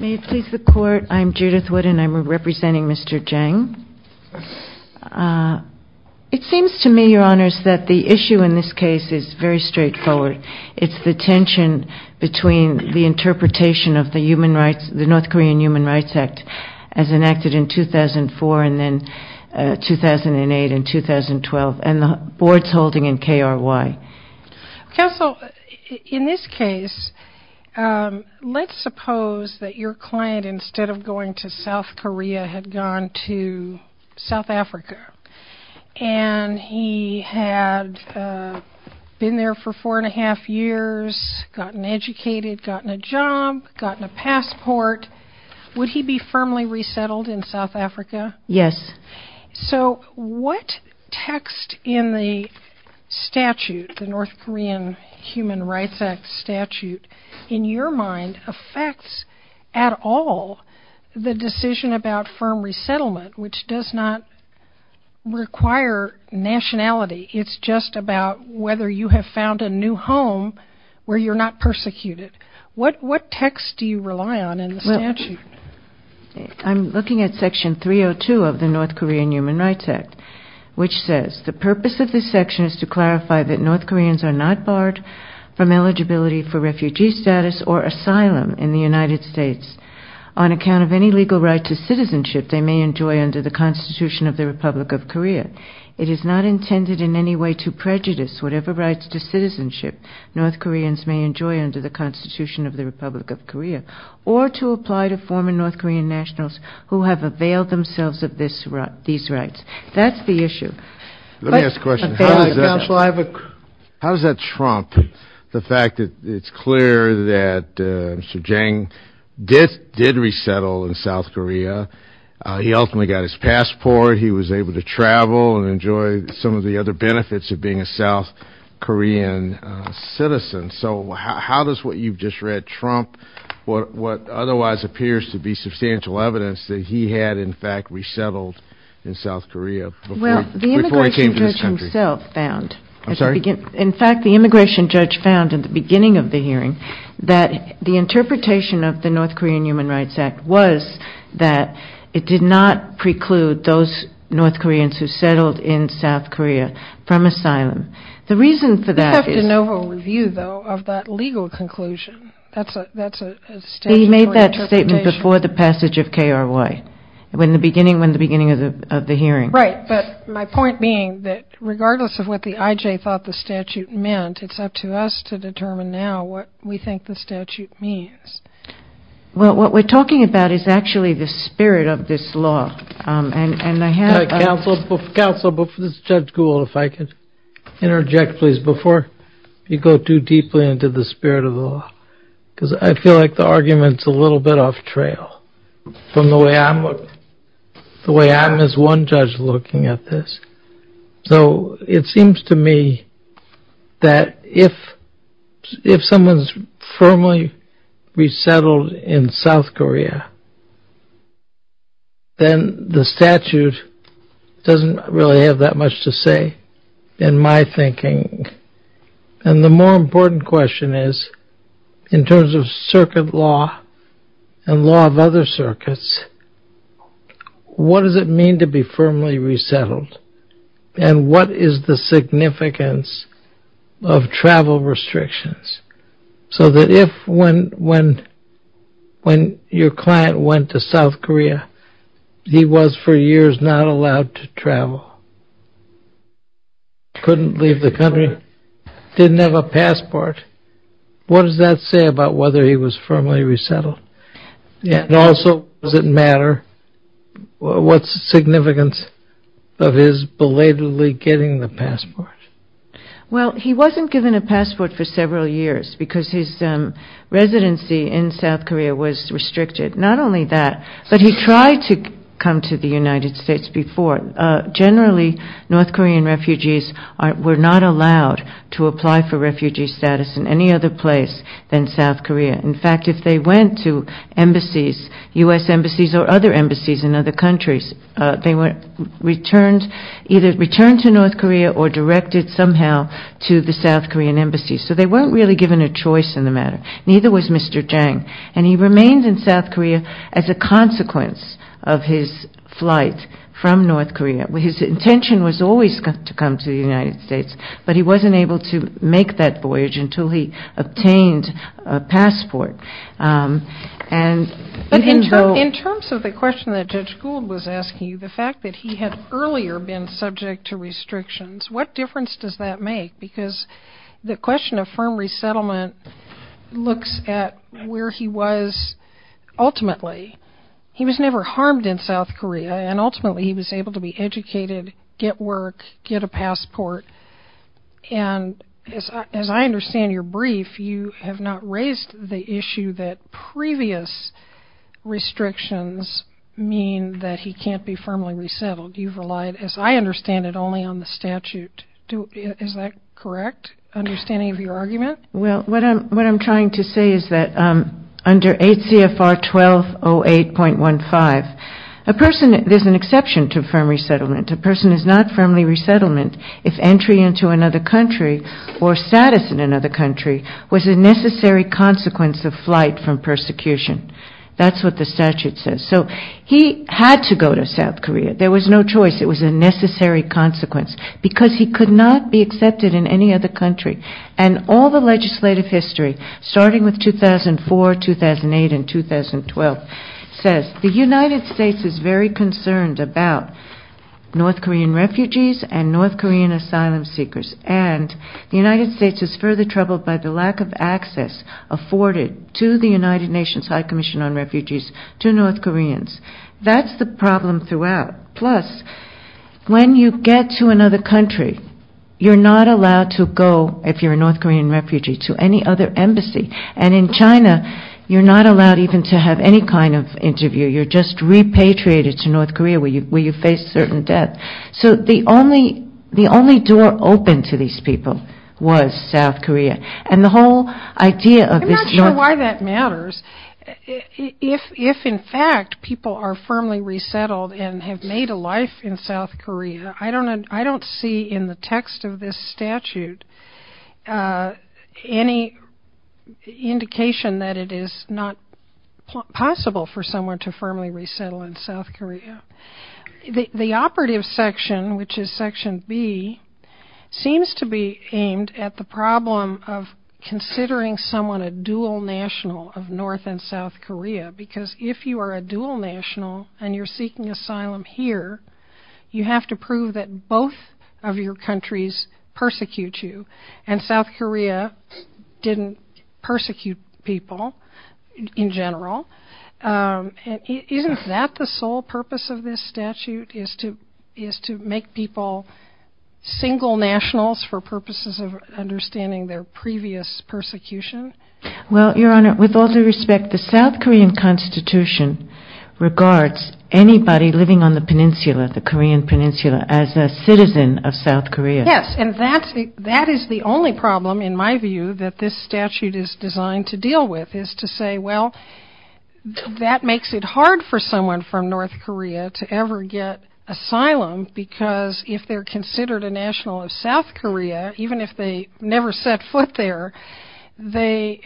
May it please the Court, I'm Judith Wood and I'm representing Mr. Jang. It seems to me, Your Honors, that the issue in this case is very straightforward. It's the tension between the interpretation of the North Korean Human Rights Act as enacted in 2004 and then 2008 and 2012 and the board's holding in KRY. Counsel, in this case, let's suppose that your client, instead of going to South Korea, had gone to South Africa and he had been there for four and a half years, gotten educated, gotten a job, gotten a passport. Would he be firmly resettled in South Africa? Yes. So what text in the statute, the North Korean Human Rights Act statute, in your mind, affects at all the decision about firm resettlement, which does not require nationality. It's just about whether you have found a new home where you're not persecuted. What text do you rely on in the statute? I'm looking at Section 302 of the North Korean Human Rights Act, which says, the purpose of this section is to clarify that North Koreans are not barred from eligibility for refugee status or asylum in the United States on account of any legal right to citizenship they may enjoy under the Constitution of the Republic of Korea. It is not intended in any way to prejudice whatever rights to citizenship North Koreans may enjoy under the Constitution of the Republic of Korea, or to apply to former North Korean nationals who have availed themselves of these rights. That's the issue. Let me ask a question. How does that trump the fact that it's clear that Mr. Jang did resettle in South Korea. He ultimately got his passport. He was able to travel and enjoy some of the other benefits of being a South Korean citizen. So how does what you've just read trump what otherwise appears to be substantial evidence that he had in fact resettled in South Korea before he came to this country? Well, the immigration judge himself found. I'm sorry? In fact, the immigration judge found at the beginning of the hearing that the interpretation of the North Korean Human Rights Act was that it did not preclude those North Koreans who settled in South Korea from asylum. We have de novo review, though, of that legal conclusion. That's a statutory interpretation. He made that statement before the passage of KRY, when the beginning of the hearing. Right. But my point being that regardless of what the IJ thought the statute meant, it's up to us to determine now what we think the statute means. Well, what we're talking about is actually the spirit of this law. Counsel, this is Judge Gould. If I could interject, please, before you go too deeply into the spirit of the law. Because I feel like the argument's a little bit off trail from the way I'm looking. The way I'm as one judge looking at this. So it seems to me that if someone's firmly resettled in South Korea, then the statute doesn't really have that much to say in my thinking. And the more important question is, in terms of circuit law and law of other circuits, what does it mean to be firmly resettled? And what is the significance of travel restrictions? So that if when your client went to South Korea, he was for years not allowed to travel, couldn't leave the country, didn't have a passport, what does that say about whether he was firmly resettled? And also, does it matter what's the significance of his belatedly getting the passport? Well, he wasn't given a passport for several years because his residency in South Korea was restricted. Not only that, but he tried to come to the United States before. Generally, North Korean refugees were not allowed to apply for refugee status in any other place than South Korea. In fact, if they went to embassies, U.S. embassies or other embassies in other countries, they were either returned to North Korea or directed somehow to the South Korean embassies. So they weren't really given a choice in the matter. Neither was Mr. Jang. And he remained in South Korea as a consequence of his flight from North Korea. His intention was always to come to the United States, but he wasn't able to make that voyage until he obtained a passport. But in terms of the question that Judge Gould was asking you, the fact that he had earlier been subject to restrictions, what difference does that make? Because the question of firm resettlement looks at where he was ultimately. He was never harmed in South Korea, and ultimately he was able to be educated, get work, get a passport. And as I understand your brief, you have not raised the issue that previous restrictions mean that he can't be firmly resettled. You've relied, as I understand it, only on the statute. Is that correct, understanding of your argument? Well, what I'm trying to say is that under ACFR 1208.15, there's an exception to firm resettlement. A person is not firmly resettlement. If entry into another country or status in another country was a necessary consequence of flight from persecution. That's what the statute says. So he had to go to South Korea. There was no choice. It was a necessary consequence because he could not be accepted in any other country. And all the legislative history, starting with 2004, 2008, and 2012, says the United States is very concerned about North Korean refugees and North Korean asylum seekers. And the United States is further troubled by the lack of access afforded to the United Nations High Commission on Refugees to North Koreans. That's the problem throughout. Plus, when you get to another country, you're not allowed to go, if you're a North Korean refugee, to any other embassy. And in China, you're not allowed even to have any kind of interview. You're just repatriated to North Korea where you face certain death. So the only door open to these people was South Korea. And the whole idea of this. I'm not sure why that matters. If, in fact, people are firmly resettled and have made a life in South Korea, I don't see in the text of this statute any indication that it is not possible for someone to firmly resettle in South Korea. The operative section, which is section B, seems to be aimed at the problem of considering someone a dual national of North and South Korea. Because if you are a dual national and you're seeking asylum here, you have to prove that both of your countries persecute you. And South Korea didn't persecute people in general. Isn't that the sole purpose of this statute, is to make people single nationals for purposes of understanding their previous persecution? Well, Your Honor, with all due respect, the South Korean constitution regards anybody living on the peninsula, the Korean peninsula, as a citizen of South Korea. Yes, and that is the only problem, in my view, that this statute is designed to deal with, is to say, well, that makes it hard for someone from North Korea to ever get asylum because if they're considered a national of South Korea, even if they never set foot there, they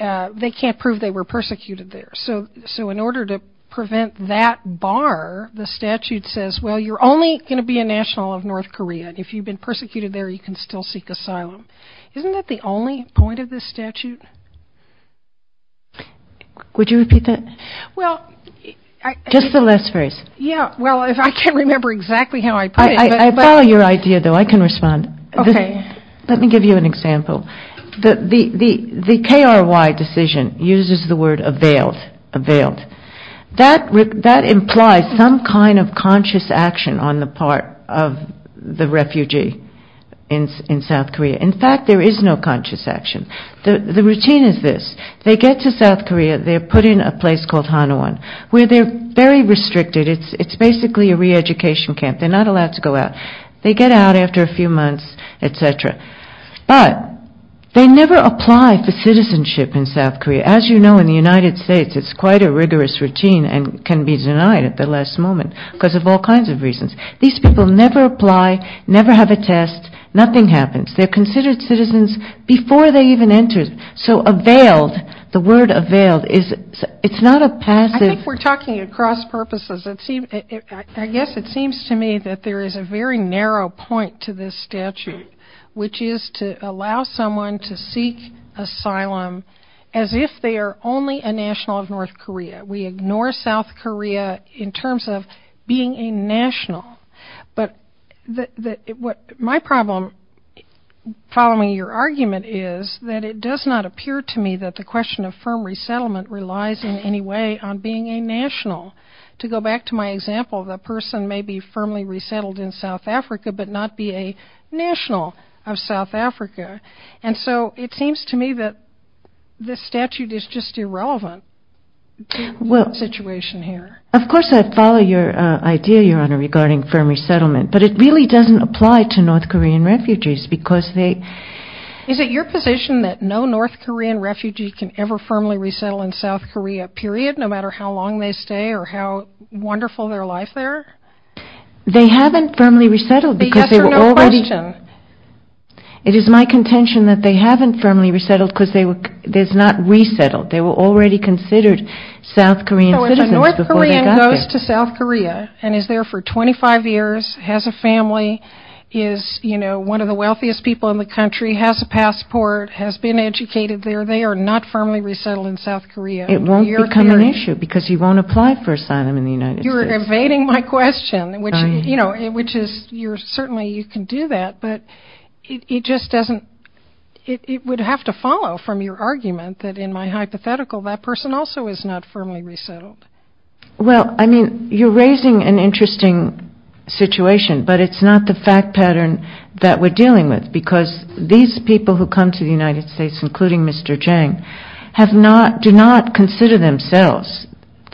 can't prove they were persecuted there. So in order to prevent that bar, the statute says, well, you're only going to be a national of North Korea. If you've been persecuted there, you can still seek asylum. Isn't that the only point of this statute? Would you repeat that? Just the last phrase. Yeah, well, I can't remember exactly how I put it. I follow your idea, though. I can respond. Okay. Let me give you an example. The KRY decision uses the word availed. That implies some kind of conscious action on the part of the refugee in South Korea. In fact, there is no conscious action. The routine is this. They get to South Korea. They're put in a place called Hanawon, where they're very restricted. It's basically a re-education camp. They're not allowed to go out. They get out after a few months, et cetera. But they never apply for citizenship in South Korea. As you know, in the United States, it's quite a rigorous routine and can be denied at the last moment because of all kinds of reasons. These people never apply, never have a test. Nothing happens. They're considered citizens before they even enter. So availed, the word availed, it's not a passive. I think we're talking across purposes. I guess it seems to me that there is a very narrow point to this statute, which is to allow someone to seek asylum as if they are only a national of North Korea. We ignore South Korea in terms of being a national. But my problem, following your argument, is that it does not appear to me that the question of firm resettlement relies in any way on being a national. To go back to my example, the person may be firmly resettled in South Africa but not be a national of South Africa. And so it seems to me that this statute is just irrelevant to the situation here. Of course, I follow your idea, Your Honor, regarding firm resettlement. But it really doesn't apply to North Korean refugees because they – Is it your position that no North Korean refugee can ever firmly resettle in South Korea, period, no matter how long they stay or how wonderful their life there? They haven't firmly resettled because they were already – Answer no question. It is my contention that they haven't firmly resettled because they were – they're not resettled. They were already considered South Korean citizens before they got here. So if a North Korean goes to South Korea and is there for 25 years, has a family, is, you know, one of the wealthiest people in the country, has a passport, has been educated there, they are not firmly resettled in South Korea. It won't become an issue because he won't apply for asylum in the United States. You're evading my question, which, you know, which is you're – certainly you can do that, but it just doesn't – it would have to follow from your argument that in my hypothetical that person also is not firmly resettled. Well, I mean, you're raising an interesting situation, but it's not the fact pattern that we're dealing with because these people who come to the United States, including Mr. Jang, have not – do not consider themselves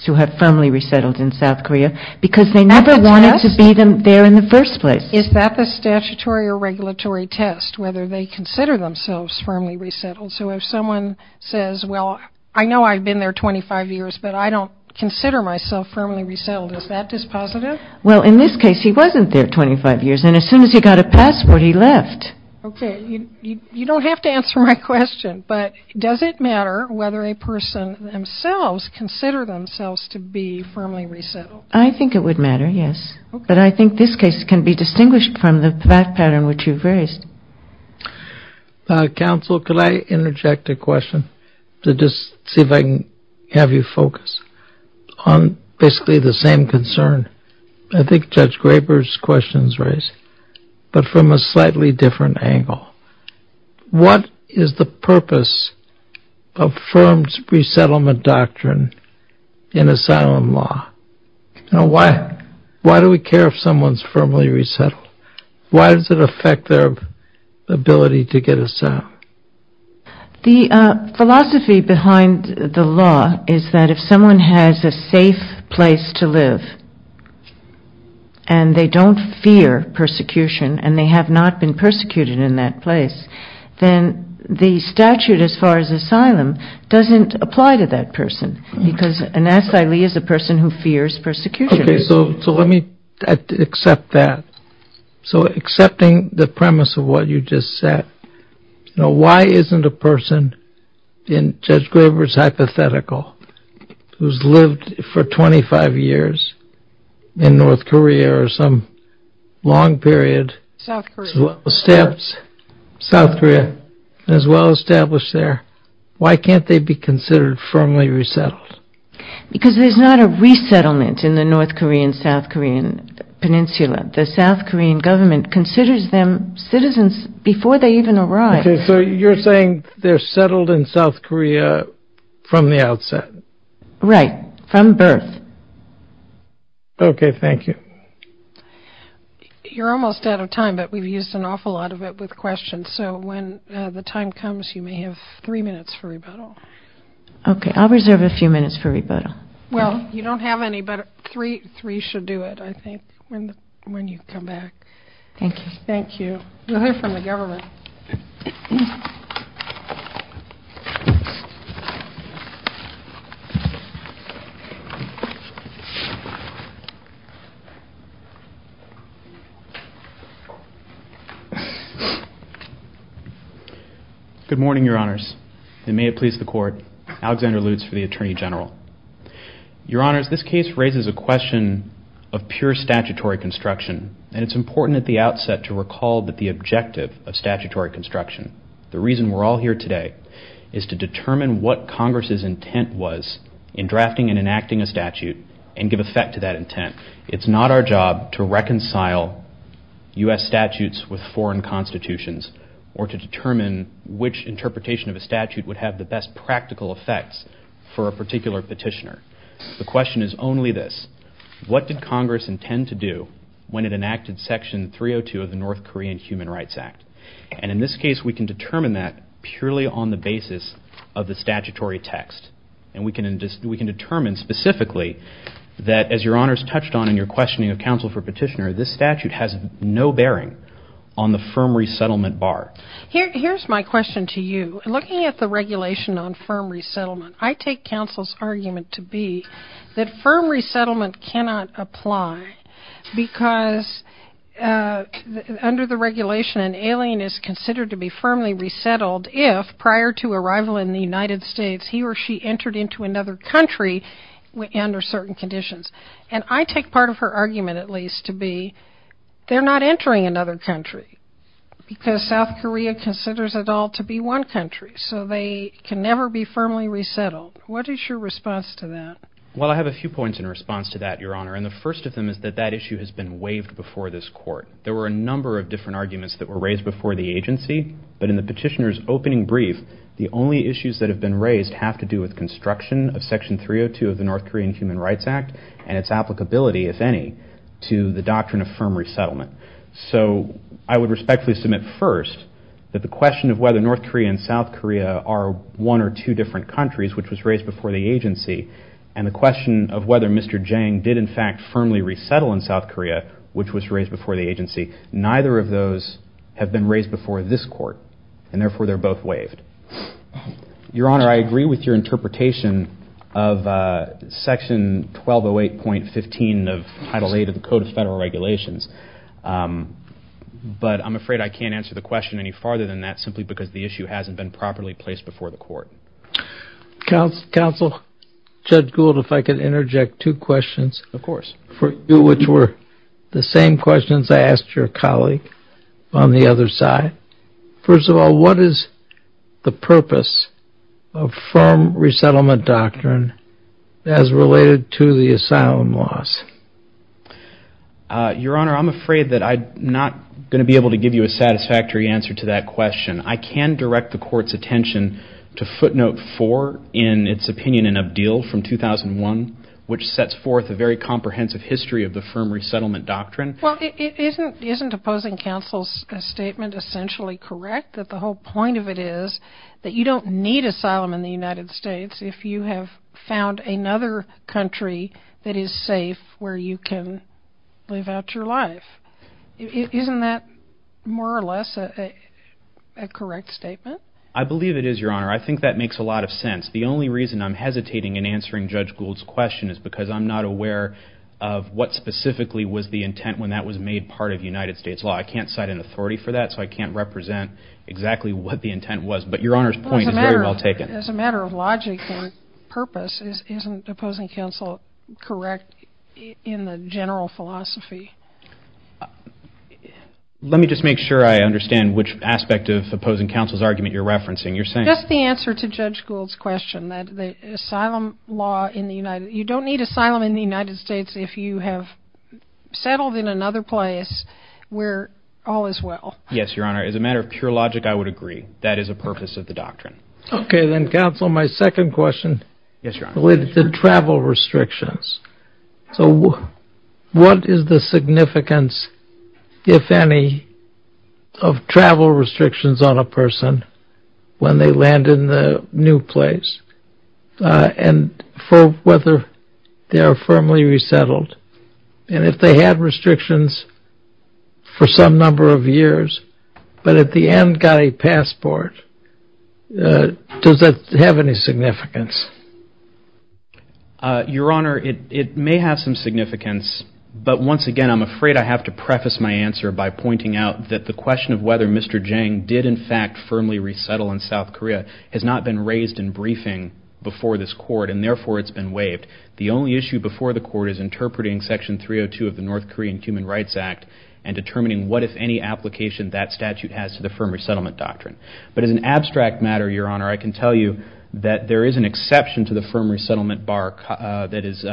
to have firmly resettled in South Korea because they never wanted to be there in the first place. Is that the statutory or regulatory test, whether they consider themselves firmly resettled? So if someone says, well, I know I've been there 25 years, but I don't consider myself firmly resettled, is that dispositive? Well, in this case, he wasn't there 25 years, and as soon as he got a passport, he left. Okay. You don't have to answer my question, but does it matter whether a person themselves consider themselves to be firmly resettled? I think it would matter, yes. But I think this case can be distinguished from the fact pattern which you've raised. Counsel, could I interject a question to just see if I can have you focus on basically the same concern I think Judge Graber's question's raised, but from a slightly different angle. What is the purpose of firms' resettlement doctrine in asylum law? Why do we care if someone's firmly resettled? Why does it affect their ability to get asylum? The philosophy behind the law is that if someone has a safe place to live and they don't fear persecution and they have not been persecuted in that place, then the statute as far as asylum doesn't apply to that person, because an asylee is a person who fears persecution. Okay, so let me accept that. So accepting the premise of what you just said, why isn't a person in Judge Graber's hypothetical, who's lived for 25 years in North Korea or some long period, South Korea, as well established there, why can't they be considered firmly resettled? Because there's not a resettlement in the North Korean, South Korean peninsula. The South Korean government considers them citizens before they even arrive. Okay, so you're saying they're settled in South Korea from the outset. Right, from birth. Okay, thank you. You're almost out of time, but we've used an awful lot of it with questions, so when the time comes, you may have three minutes for rebuttal. Okay, I'll reserve a few minutes for rebuttal. Well, you don't have any, but three should do it, I think, when you come back. Thank you. Thank you. We'll hear from the government. Good morning, Your Honors, and may it please the Court, Alexander Lutz for the Attorney General. Your Honors, this case raises a question of pure statutory construction, and it's important at the outset to recall the objective of statutory construction. The reason we're all here today is to determine what Congress's intent was in drafting and enacting a statute and give effect to that intent. It's not our job to reconcile U.S. statutes with foreign constitutions or to determine which interpretation of a statute would have the best practical effects for a particular petitioner. The question is only this. What did Congress intend to do when it enacted Section 302 of the North Korean Human Rights Act? And in this case, we can determine that purely on the basis of the statutory text, and we can determine specifically that, as Your Honors touched on in your questioning of counsel for petitioner, this statute has no bearing on the firm resettlement bar. Here's my question to you. Looking at the regulation on firm resettlement, I take counsel's argument to be that firm resettlement cannot apply because under the regulation, an alien is considered to be firmly resettled if, prior to arrival in the United States, he or she entered into another country under certain conditions. And I take part of her argument, at least, to be they're not entering another country because South Korea considers it all to be one country, so they can never be firmly resettled. What is your response to that? Well, I have a few points in response to that, Your Honor, and the first of them is that that issue has been waived before this Court. There were a number of different arguments that were raised before the agency, but in the petitioner's opening brief, the only issues that have been raised have to do with construction of Section 302 of the North Korean Human Rights Act and its applicability, if any, to the doctrine of firm resettlement. So I would respectfully submit first that the question of whether North Korea and South Korea are one or two different countries, which was raised before the agency, and the question of whether Mr. Jang did, in fact, firmly resettle in South Korea, which was raised before the agency, neither of those have been raised before this Court, and therefore they're both waived. Your Honor, I agree with your interpretation of Section 1208.15 of Title VIII of the Code of Federal Regulations, but I'm afraid I can't answer the question any farther than that simply because the issue hasn't been properly placed before the Court. Counsel, Judge Gould, if I could interject two questions for you, which were the same questions I asked your colleague on the other side. First of all, what is the purpose of firm resettlement doctrine as related to the asylum laws? Your Honor, I'm afraid that I'm not going to be able to give you a satisfactory answer to that question. I can direct the Court's attention to footnote 4 in its opinion in Abdil from 2001, which sets forth a very comprehensive history of the firm resettlement doctrine. Well, isn't opposing counsel's statement essentially correct, that the whole point of it is that you don't need asylum in the United States if you have found another country that is safe where you can live out your life? Isn't that more or less a correct statement? I believe it is, Your Honor. I think that makes a lot of sense. The only reason I'm hesitating in answering Judge Gould's question is because I'm not aware of what specifically was the intent when that was made part of United States law. I can't cite an authority for that, so I can't represent exactly what the intent was, but Your Honor's point is very well taken. Well, as a matter of logic and purpose, isn't opposing counsel correct in the general philosophy? Let me just make sure I understand which aspect of opposing counsel's argument you're referencing. Just the answer to Judge Gould's question, that you don't need asylum in the United States if you have settled in another place where all is well. Yes, Your Honor. As a matter of pure logic, I would agree. That is a purpose of the doctrine. Okay. Then, counsel, my second question related to travel restrictions. So what is the significance, if any, of travel restrictions on a person when they land in the new place and for whether they are firmly resettled? And if they had restrictions for some number of years, but at the end got a passport, does that have any significance? Your Honor, it may have some significance, but once again, I'm afraid I have to preface my answer by pointing out that the question of whether Mr. Jang did, in fact, firmly resettle in South Korea has not been raised in briefing before this Court, and therefore it's been waived. The only issue before the Court is interpreting Section 302 of the North Korean Human Rights Act and determining what, if any, application that statute has to the firm resettlement doctrine. But as an abstract matter, Your Honor, I can tell you that there is an exception to the firm resettlement bar that is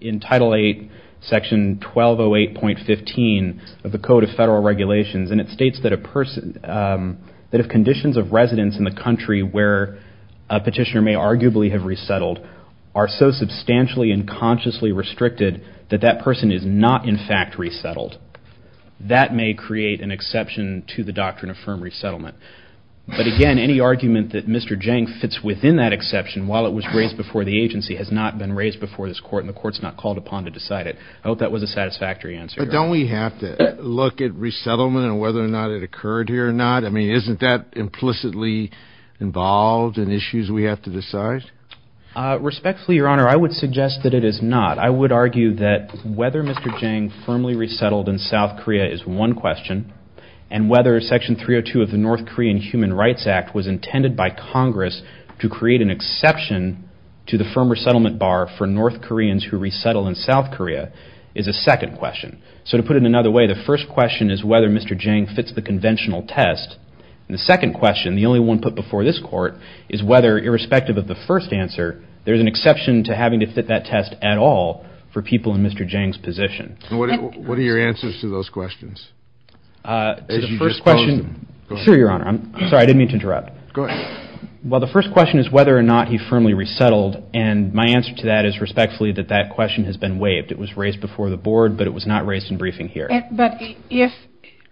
in Title VIII, Section 1208.15 of the Code of Federal Regulations, and it states that if conditions of residence in the country where a petitioner may arguably have resettled are so substantially and consciously restricted that that person is not, in fact, resettled, that may create an exception to the doctrine of firm resettlement. But again, any argument that Mr. Jang fits within that exception while it was raised before the agency has not been raised before this Court and the Court's not called upon to decide it. I hope that was a satisfactory answer, Your Honor. But don't we have to look at resettlement and whether or not it occurred here or not? I mean, isn't that implicitly involved in issues we have to decide? Respectfully, Your Honor, I would suggest that it is not. I would argue that whether Mr. Jang firmly resettled in South Korea is one question, and whether Section 302 of the North Korean Human Rights Act was intended by Congress to create an exception to the firm resettlement bar for North Koreans who resettle in South Korea is a second question. So to put it another way, the first question is whether Mr. Jang fits the conventional test, and the second question, the only one put before this Court, is whether, irrespective of the first answer, there's an exception to having to fit that test at all for people in Mr. Jang's position. What are your answers to those questions? Sure, Your Honor. I'm sorry. I didn't mean to interrupt. Go ahead. Well, the first question is whether or not he firmly resettled, and my answer to that is respectfully that that question has been waived. It was raised before the Board, but it was not raised in briefing here. But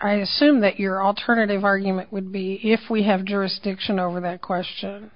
I assume that your alternative argument would be, if we have jurisdiction over that question,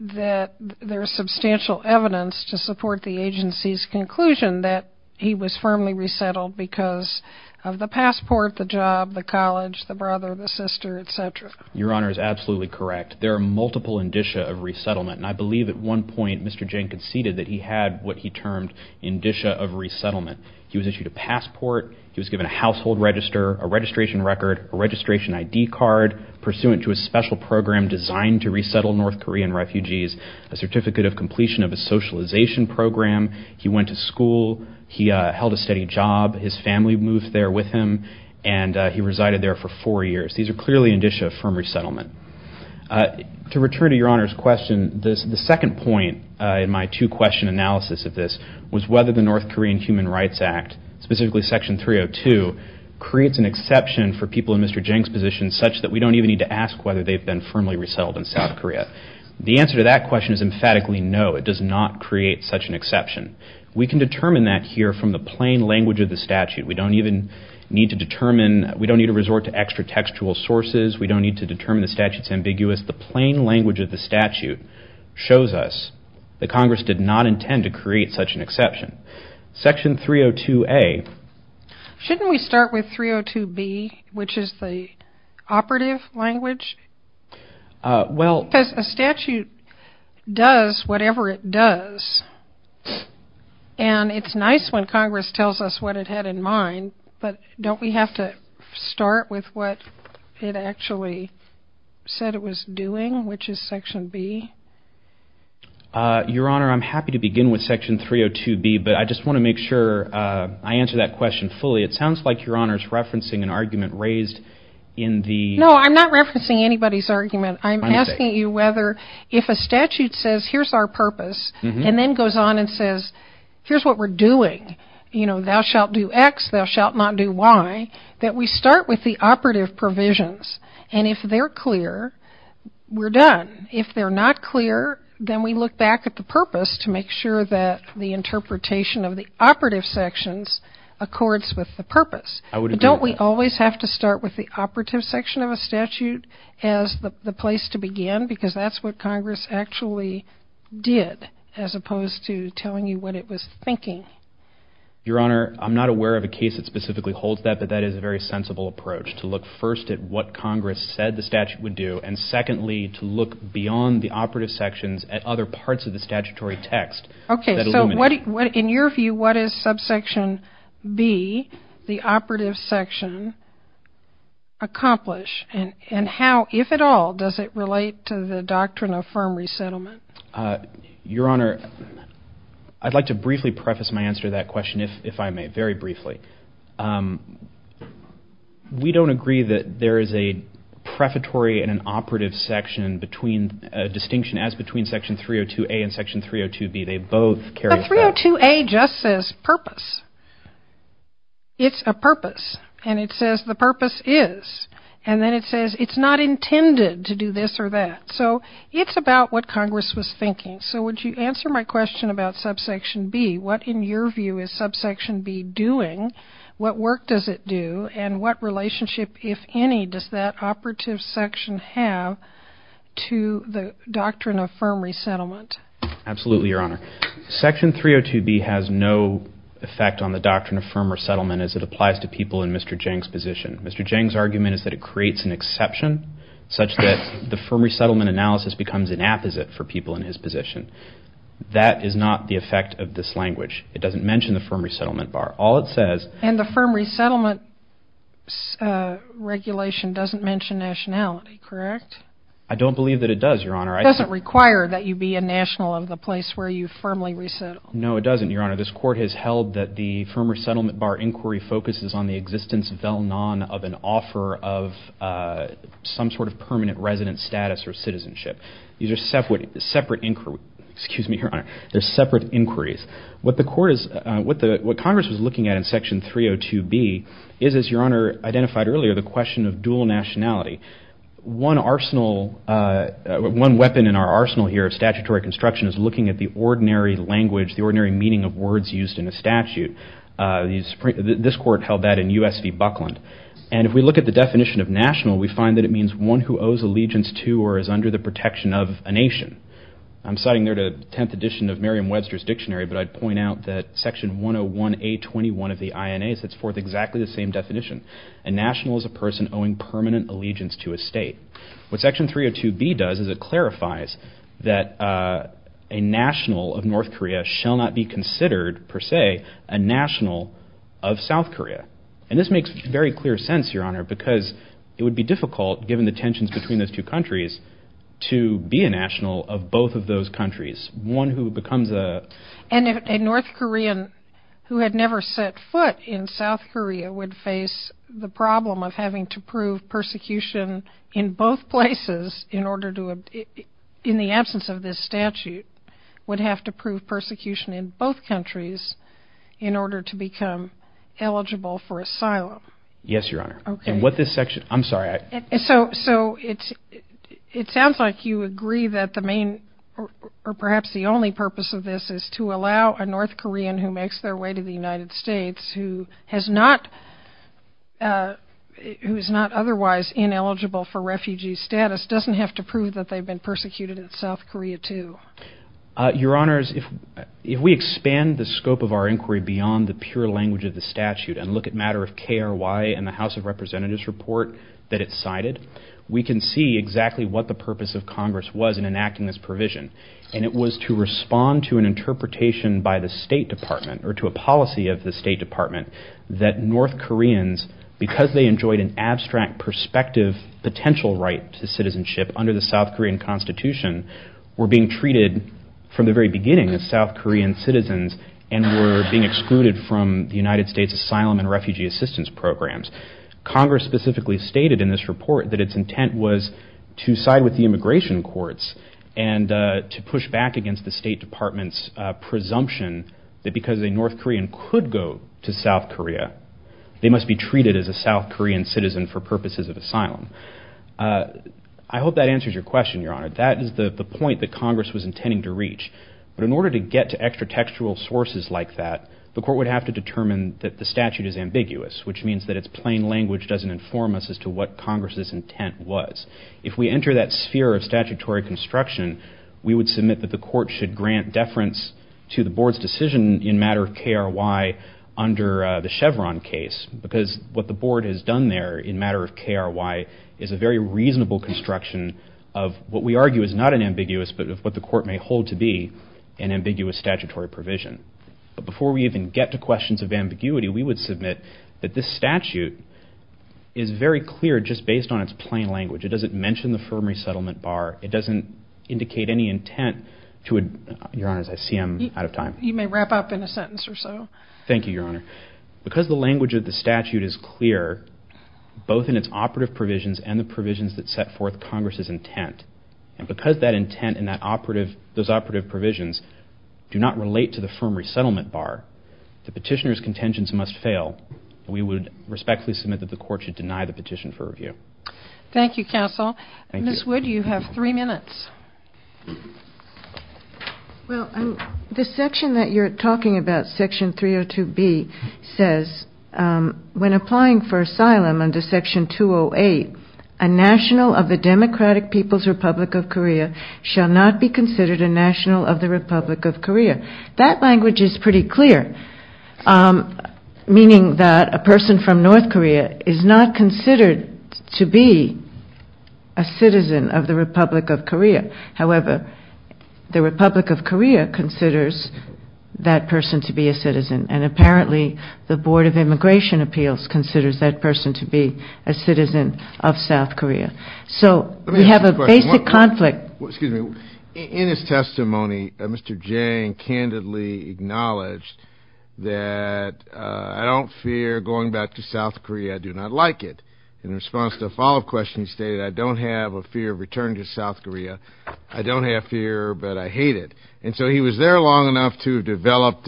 that there is substantial evidence to support the agency's conclusion that he was firmly resettled because of the passport, the job, the college, the brother, the sister, et cetera. Your Honor is absolutely correct. There are multiple indicia of resettlement, and I believe at one point Mr. Jang conceded that he had what he termed indicia of resettlement. He was issued a passport. He was given a household register, a registration record, a registration ID card, pursuant to a special program designed to resettle North Korean refugees, a certificate of completion of a socialization program. He went to school. He held a steady job. His family moved there with him, and he resided there for four years. These are clearly indicia of firm resettlement. To return to Your Honor's question, the second point in my two-question analysis of this was whether the North Korean Human Rights Act, specifically Section 302, creates an exception for people in Mr. Jang's position such that we don't even need to ask whether they've been firmly resettled in South Korea. The answer to that question is emphatically no. It does not create such an exception. We can determine that here from the plain language of the statute. We don't even need to determine. We don't need to resort to extra textual sources. We don't need to determine the statute's ambiguous. The plain language of the statute shows us that Congress did not intend to create such an exception. Section 302A. Shouldn't we start with 302B, which is the operative language? Because a statute does whatever it does, and it's nice when Congress tells us what it had in mind, but don't we have to start with what it actually said it was doing, which is Section B? Your Honor, I'm happy to begin with Section 302B, but I just want to make sure I answer that question fully. It sounds like Your Honor is referencing an argument raised in the— No, I'm not referencing anybody's argument. I'm asking you whether if a statute says, here's our purpose, and then goes on and says, here's what we're doing, you know, thou shalt do X, thou shalt not do Y, that we start with the operative provisions, and if they're clear, we're done. If they're not clear, then we look back at the purpose to make sure that the interpretation of the operative sections accords with the purpose. I would agree with that. But don't we always have to start with the operative section of a statute as the place to begin? Because that's what Congress actually did, as opposed to telling you what it was thinking. Your Honor, I'm not aware of a case that specifically holds that, but that is a very sensible approach, to look first at what Congress said the statute would do, and secondly, to look beyond the operative sections at other parts of the statutory text that illuminate. In your view, what does subsection B, the operative section, accomplish? And how, if at all, does it relate to the doctrine of firm resettlement? Your Honor, I'd like to briefly preface my answer to that question, if I may, very briefly. We don't agree that there is a prefatory and an operative section between, a distinction as between section 302A and section 302B. They both carry a purpose. But 302A just says purpose. It's a purpose. And it says the purpose is. And then it says it's not intended to do this or that. So it's about what Congress was thinking. So would you answer my question about subsection B? What, in your view, is subsection B doing? What work does it do? And what relationship, if any, does that operative section have to the doctrine of firm resettlement? Absolutely, Your Honor. Section 302B has no effect on the doctrine of firm resettlement as it applies to people in Mr. Geng's position. Mr. Geng's argument is that it creates an exception, such that the firm resettlement analysis becomes an apposite for people in his position. That is not the effect of this language. It doesn't mention the firm resettlement bar. All it says. And the firm resettlement regulation doesn't mention nationality, correct? I don't believe that it does, Your Honor. It doesn't require that you be a national of the place where you firmly resettle. No, it doesn't, Your Honor. This court has held that the firm resettlement bar inquiry focuses on the existence, vel non, of an offer of some sort of permanent resident status or citizenship. These are separate inquiries. What Congress was looking at in section 302B is, as Your Honor identified earlier, the question of dual nationality. One arsenal, one weapon in our arsenal here of statutory construction is looking at the ordinary language, the ordinary meaning of words used in a statute. This court held that in U.S. v. Buckland. And if we look at the definition of national, we find that it means one who owes allegiance to or is under the protection of a nation. I'm citing there the 10th edition of Merriam-Webster's dictionary, but I'd point out that section 101A21 of the INA sets forth exactly the same definition. A national is a person owing permanent allegiance to a state. What section 302B does is it clarifies that a national of North Korea shall not be considered, per se, a national of South Korea. And this makes very clear sense, Your Honor, because it would be difficult, given the tensions between those two countries, to be a national of both of those countries, one who becomes a... And a North Korean who had never set foot in South Korea would face the problem of having to prove persecution in both places in order to... in the absence of this statute, would have to prove persecution in both countries in order to become eligible for asylum. Yes, Your Honor. And what this section... I'm sorry. So it sounds like you agree that the main, or perhaps the only purpose of this, is to allow a North Korean who makes their way to the United States who has not... who is not otherwise ineligible for refugee status doesn't have to prove that they've been persecuted in South Korea, too. Your Honors, if we expand the scope of our inquiry beyond the pure language of the statute and look at matter of KRY and the House of Representatives report that it cited, we can see exactly what the purpose of Congress was in enacting this provision. And it was to respond to an interpretation by the State Department, or to a policy of the State Department, that North Koreans, because they enjoyed an abstract perspective potential right to citizenship under the South Korean Constitution, were being treated from the very beginning as South Korean citizens and were being excluded from the United States asylum and refugee assistance programs. Congress specifically stated in this report that its intent was to side with the immigration courts and to push back against the State Department's presumption that because a North Korean could go to South Korea, they must be treated as a South Korean citizen for purposes of asylum. I hope that answers your question, Your Honor. That is the point that Congress was intending to reach. But in order to get to extra-textual sources like that, the Court would have to determine that the statute is ambiguous, which means that its plain language doesn't inform us as to what Congress's intent was. If we enter that sphere of statutory construction, we would submit that the Court should grant deference to the Board's decision in matter of KRY under the Chevron case, because what the Board has done there in matter of KRY is a very reasonable construction of what we argue is not an ambiguous, but of what the Court may hold to be an ambiguous statutory provision. But before we even get to questions of ambiguity, we would submit that this statute is very clear just based on its plain language. It doesn't mention the firm resettlement bar. It doesn't indicate any intent to a... Your Honor, I see I'm out of time. You may wrap up in a sentence or so. Thank you, Your Honor. Because the language of the statute is clear, both in its operative provisions and the provisions that set forth Congress's intent, and because that intent and those operative provisions do not relate to the firm resettlement bar, the petitioner's contentions must fail. We would respectfully submit that the Court should deny the petition for review. Thank you, counsel. Thank you. Ms. Wood, you have three minutes. Well, the section that you're talking about, Section 302B, says when applying for asylum under Section 208, a national of the Democratic People's Republic of Korea shall not be considered a national of the Republic of Korea. That language is pretty clear, meaning that a person from North Korea is not considered to be a citizen of the Republic of Korea. However, the Republic of Korea considers that person to be a citizen, and apparently the Board of Immigration Appeals considers that person to be a citizen of South Korea. So we have a basic conflict. Excuse me. In his testimony, Mr. Jang candidly acknowledged that, I don't fear going back to South Korea. I do not like it. In response to a follow-up question, he stated, I don't have a fear of returning to South Korea. I don't have fear, but I hate it. And so he was there long enough to develop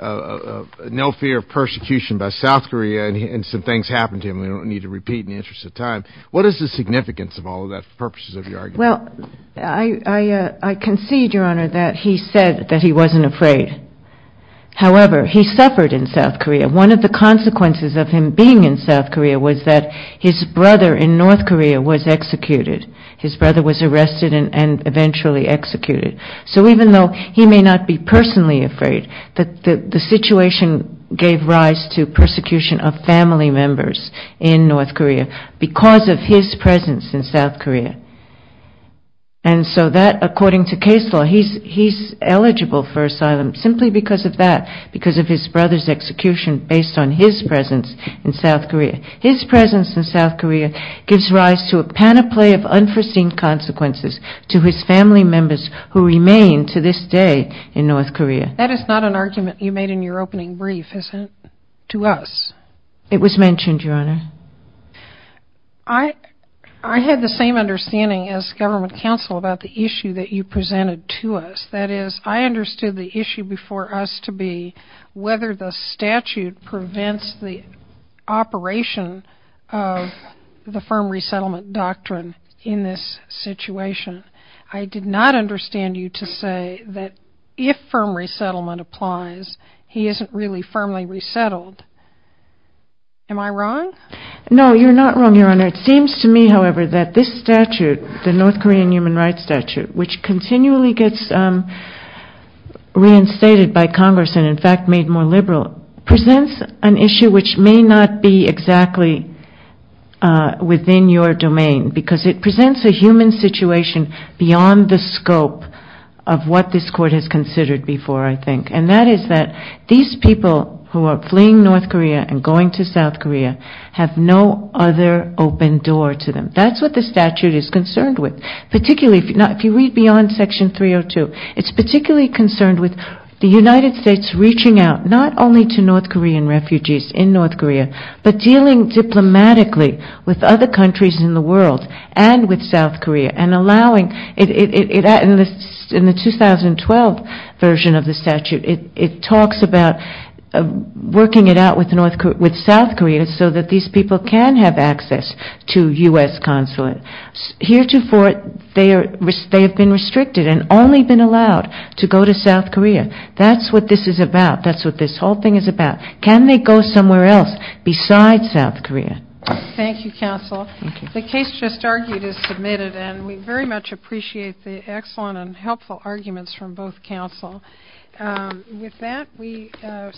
no fear of persecution by South Korea, and some things happened to him we don't need to repeat in the interest of time. What is the significance of all of that for purposes of your argument? Well, I concede, Your Honor, that he said that he wasn't afraid. However, he suffered in South Korea. One of the consequences of him being in South Korea was that his brother in North Korea was executed. His brother was arrested and eventually executed. So even though he may not be personally afraid, the situation gave rise to persecution of family members in North Korea because of his presence in South Korea. And so that, according to case law, he's eligible for asylum simply because of that, because of his brother's execution based on his presence in South Korea. His presence in South Korea gives rise to a panoply of unforeseen consequences to his family members who remain to this day in North Korea. That is not an argument you made in your opening brief, is it, to us? It was mentioned, Your Honor. I had the same understanding as government counsel about the issue that you presented to us. That is, I understood the issue before us to be whether the statute prevents the operation of the firm resettlement doctrine in this situation. I did not understand you to say that if firm resettlement applies, he isn't really firmly resettled. Am I wrong? No, you're not wrong, Your Honor. It seems to me, however, that this statute, the North Korean human rights statute, which continually gets reinstated by Congress and, in fact, made more liberal, presents an issue which may not be exactly within your domain because it presents a human situation beyond the scope of what this Court has considered before, I think, and that is that these people who are fleeing North Korea and going to South Korea have no other open door to them. That's what the statute is concerned with, particularly if you read beyond Section 302. It's particularly concerned with the United States reaching out not only to North Korean refugees in North Korea but dealing diplomatically with other countries in the world and with South Korea and allowing it in the 2012 version of the statute. It talks about working it out with South Korea so that these people can have access to U.S. consulate. Heretofore, they have been restricted and only been allowed to go to South Korea. That's what this is about. That's what this whole thing is about. Can they go somewhere else besides South Korea? Thank you, Counsel. The case just argued is submitted, and we very much appreciate the excellent and helpful arguments from both counsel. With that, we stand adjourned.